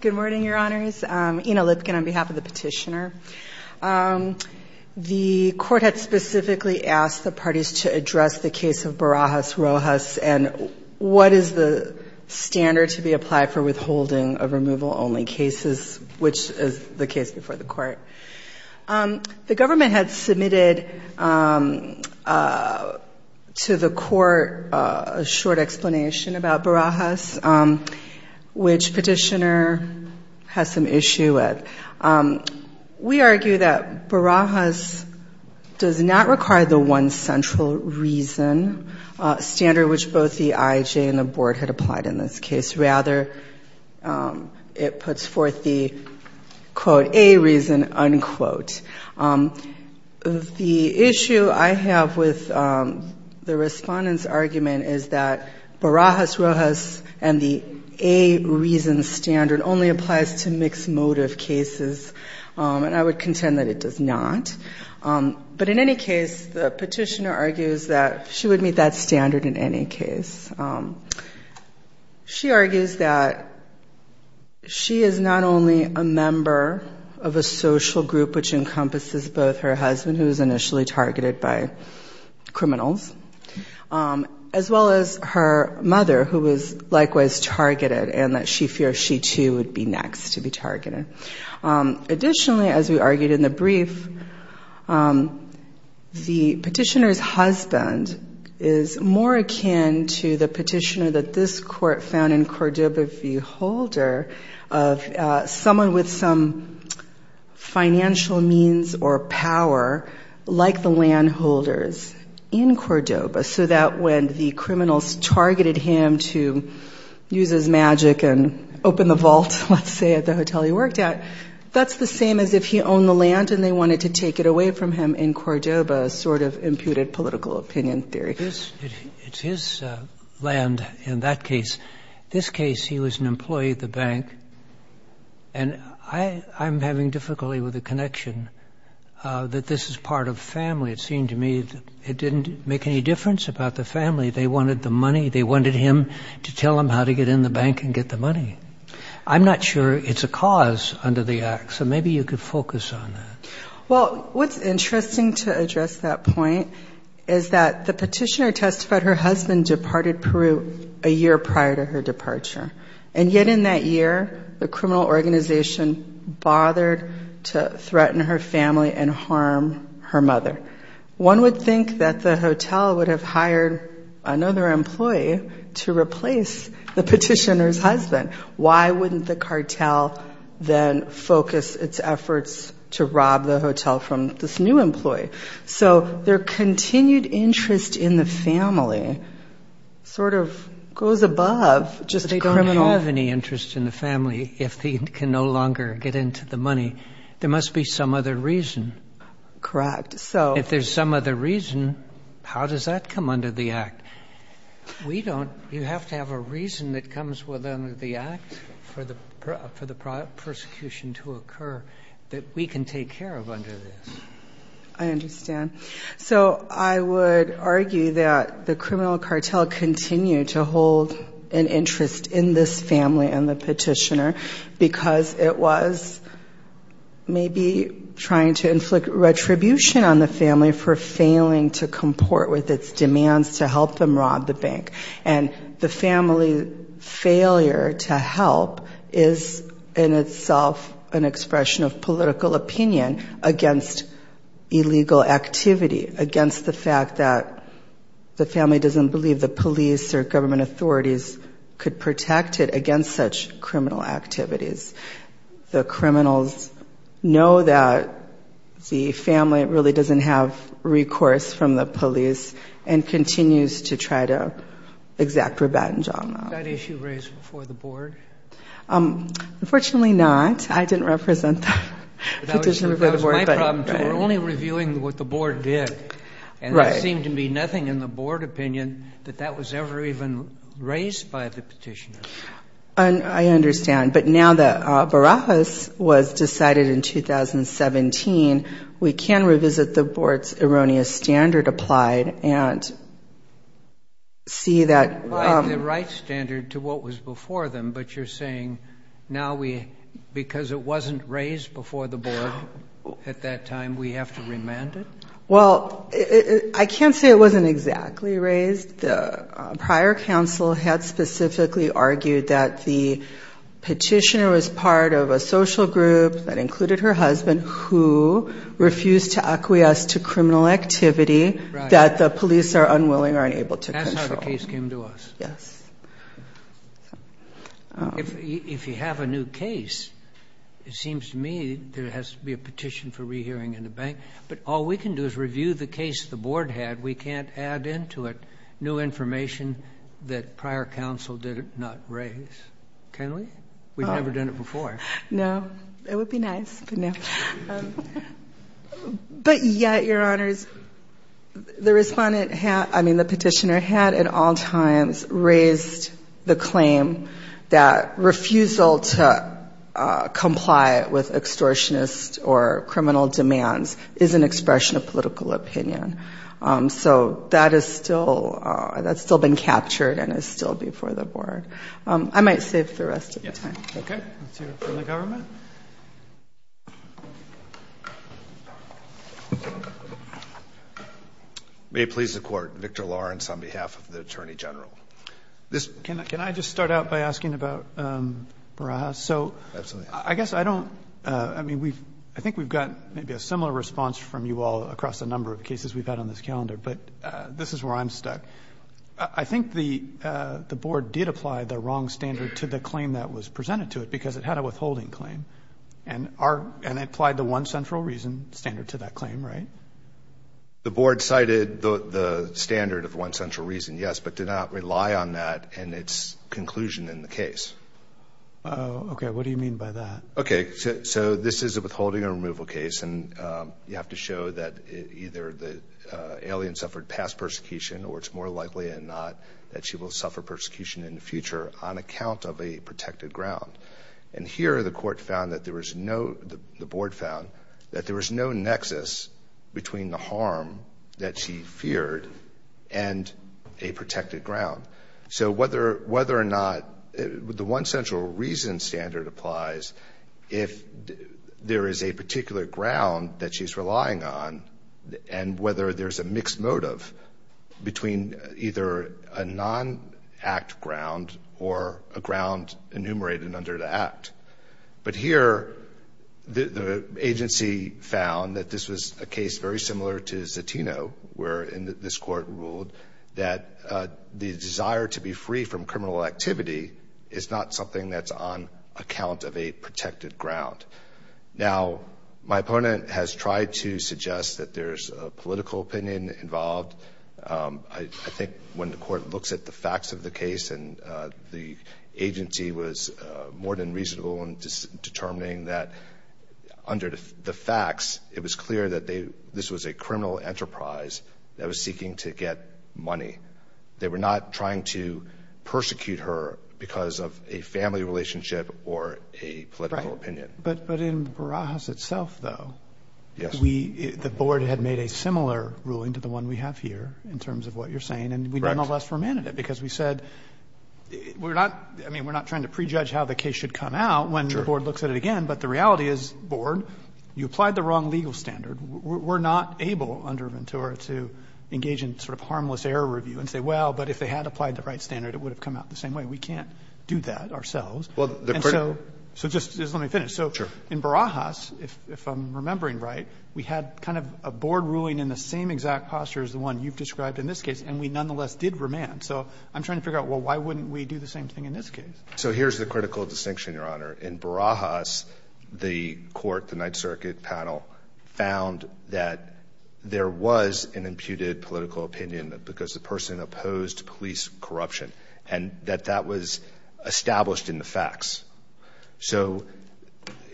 Good morning, your honors. Ina Lipkin on behalf of the petitioner. The court had specifically asked the parties to address the case of Barajas Rojas and what is the standard to be applied for withholding a removal-only case, which is the case before the court. The government had submitted to the court a short explanation about Barajas, which petitioner has some issue with. We argue that Barajas does not require the one central reason standard, which both the IJ and the board had applied in this case. Rather, it puts forth the, quote, A reason, unquote. The issue I have with the respondent's argument is that Barajas Rojas and the A reason standard only applies to mixed motive cases, and I would contend that it does not. But in any case, the petitioner argues that she would meet that standard in any case. She argues that she is not only a member of a social group which encompasses both her husband, who was initially targeted by criminals, as well as her mother, who was likewise targeted and that she feared she, too, would be next to be targeted. Additionally, as we argued in the brief, the petitioner's husband is more akin to the petitioner that this court found in Cordoba v. Holder of someone with some financial means or power, like the landholders in Cordoba, so that when the criminals targeted him to use his magic and open the vault, let's say, at the hotel he worked at, that's the same as if he owned the land and they wanted to take it away from him in Cordoba, sort of imputed political opinion theory. And I'm having difficulty with the connection that this is part of family. It seemed to me it didn't make any difference about the family. They wanted the money. They wanted him to tell them how to get in the bank and get the money. I'm not sure it's a cause under the Act, so maybe you could focus on that. Well, what's interesting to address that point is that the petitioner testified her husband departed Peru a year prior to her departure. And yet in that year, the criminal organization bothered to threaten her family and harm her mother. One would think that the hotel would have hired another employee to replace the petitioner's husband. Why wouldn't the cartel then focus its efforts to rob the hotel from this new employee? So their continued interest in the family sort of goes above just the criminal. But they don't have any interest in the family if he can no longer get into the money. There must be some other reason. Correct. If there's some other reason, how does that come under the Act? We don't. You have to have a reason that comes within the Act for the prosecution to occur that we can take care of under this. I understand. So I would argue that the criminal cartel continued to hold an interest in this family and the petitioner because it was maybe trying to inflict retribution on the family for failing to comport with its demands to help them rob the bank. And the family failure to help is in itself an expression of political opinion against illegal activity, against the fact that the family doesn't believe the police or government authorities could protect it against such criminal activities. The criminals know that the family really doesn't have recourse from the police and continues to try to exact revenge on them. Was that issue raised before the Board? Unfortunately not. I didn't represent the petitioner before the Board. We're only reviewing what the Board did. And there seemed to be nothing in the Board opinion that that was ever even raised by the petitioner. I understand. But now that Barajas was decided in 2017, we can revisit the Board's erroneous standard applied and see that... Well, I can't say it wasn't exactly raised. The prior counsel had specifically argued that the petitioner was part of a social group that included her husband who refused to acquiesce to criminal activity that the police are unwilling or unable to control. That's how the case came to us. Yes. If you have a new case, it seems to me there has to be a petition for rehearing in the bank. But all we can do is review the case the Board had. We can't add into it new information that prior counsel did not raise. Can we? We've never done it before. No. It would be nice, but no. But yet, Your Honors, the petitioner had at all times raised the claim that refusal to comply with extortionist or criminal demands is an expression of political opinion. So that's still been captured and is still before the Board. I might save the rest of the time. Okay. Let's hear from the government. May it please the Court. Victor Lawrence on behalf of the Attorney General. Can I just start out by asking about Marajas? Absolutely. So I guess I don't, I mean, I think we've got maybe a similar response from you all across a number of cases we've had on this calendar. But this is where I'm stuck. I think the Board did apply the wrong standard to the claim that was presented to it because it had a withholding claim. And it applied the one central reason standard to that claim, right? The Board cited the standard of one central reason, yes, but did not rely on that in its conclusion in the case. Okay. What do you mean by that? Okay. So this is a withholding and removal case, and you have to show that either the alien suffered past persecution or it's more likely and not that she will suffer persecution in the future on account of a protected ground. And here the Court found that there was no, the Board found that there was no nexus between the harm that she feared and a protected ground. So whether or not, the one central reason standard applies if there is a particular ground that she's relying on and whether there's a mixed motive between either a non-act ground or a ground enumerated under the act. But here the agency found that this was a case very similar to Zatino where this Court ruled that the desire to be free from criminal activity is not something that's on account of a protected ground. Now, my opponent has tried to suggest that there's a political opinion involved. I think when the Court looks at the facts of the case and the agency was more than reasonable in determining that under the facts it was clear that they, this was a criminal enterprise that was seeking to get money. They were not trying to persecute her because of a family relationship or a political opinion. Right. But in Barajas itself, though, we, the Board had made a similar ruling to the one we have here. In terms of what you're saying. Correct. And we nonetheless remanded it because we said, we're not, I mean, we're not trying to prejudge how the case should come out. Sure. When the Board looks at it again. But the reality is, Board, you applied the wrong legal standard. We're not able under Ventura to engage in sort of harmless error review and say, well, but if they had applied the right standard, it would have come out the same way. We can't do that ourselves. Well, the critical. So just let me finish. Sure. In Barajas, if I'm remembering right, we had kind of a Board ruling in the same exact posture as the one you've described in this case. And we nonetheless did remand. So I'm trying to figure out, well, why wouldn't we do the same thing in this case? So here's the critical distinction, Your Honor. In Barajas, the Court, the Ninth Circuit panel, found that there was an imputed political opinion because the person opposed police corruption. And that that was established in the facts. So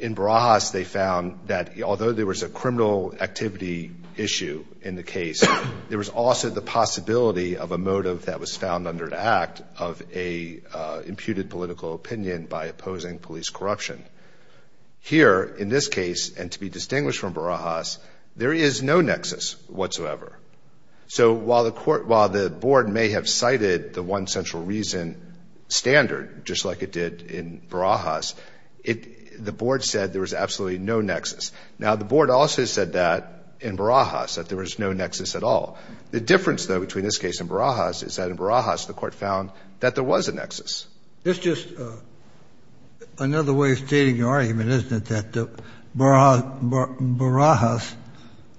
in Barajas, they found that although there was a criminal activity issue in the case, there was also the possibility of a motive that was found under the act of an imputed political opinion by opposing police corruption. Here, in this case, and to be distinguished from Barajas, there is no nexus whatsoever. So while the Court, while the Board may have cited the one central reason standard, just like it did in Barajas, the Board said there was absolutely no nexus. Now, the Board also said that in Barajas, that there was no nexus at all. The difference, though, between this case and Barajas is that in Barajas, the Court found that there was a nexus. This is just another way of stating your argument, isn't it, that Barajas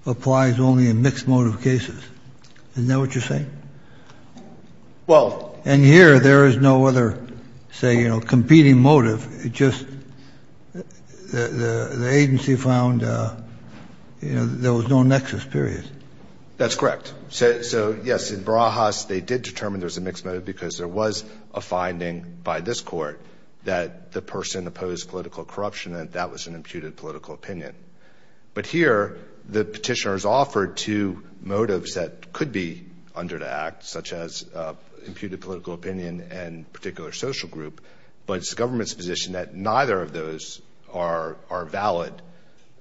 applies only in mixed motive cases? Isn't that what you're saying? Well — And here, there is no other, say, you know, competing motive. It just — the agency found, you know, there was no nexus, period. That's correct. So, yes, in Barajas, they did determine there was a mixed motive because there was a finding by this Court that the person opposed political corruption, and that was an imputed political opinion. But here, the petitioner is offered two motives that could be under the act, such as imputed political opinion and particular social group, but it's the government's position that neither of those are valid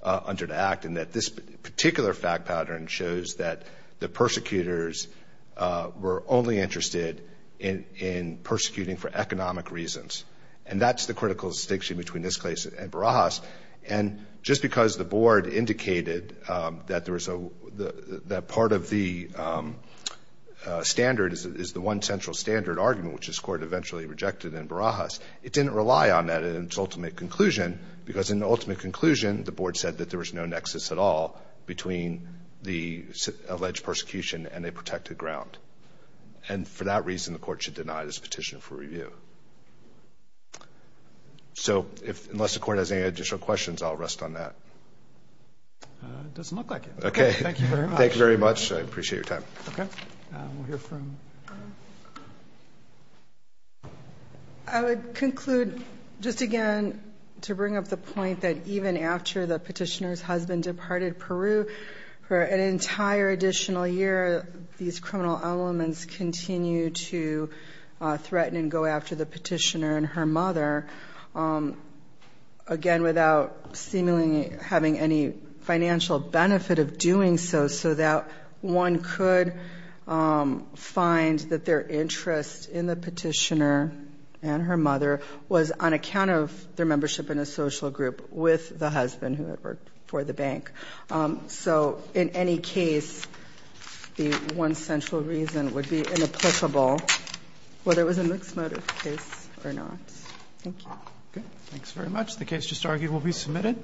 under the act and that this particular fact pattern shows that the persecutors were only interested in persecuting for economic reasons. And that's the critical distinction between this case and Barajas. And just because the Board indicated that there was a — that part of the standard is the one central standard argument, which this Court eventually rejected in Barajas, it didn't rely on that in its ultimate conclusion because in the ultimate conclusion, the Board said that there was no nexus at all between the alleged persecution and a protected ground. And for that reason, the Court should deny this petition for review. So unless the Court has any additional questions, I'll rest on that. It doesn't look like it. Okay. Thank you very much. Thank you very much. I appreciate your time. Okay. We'll hear from — I would conclude, just again, to bring up the point that even after the petitioner's husband departed Peru for an entire additional year, these criminal elements continue to threaten and go after the petitioner and her mother, again, without seemingly having any financial benefit of doing so, so that one could find that their interest in the petitioner and her mother was on account of their membership in a social group with the husband who had worked for the bank. So in any case, the one central reason would be inapplicable, whether it was a mixed motive case or not. Thank you. Okay. The case just argued will be submitted.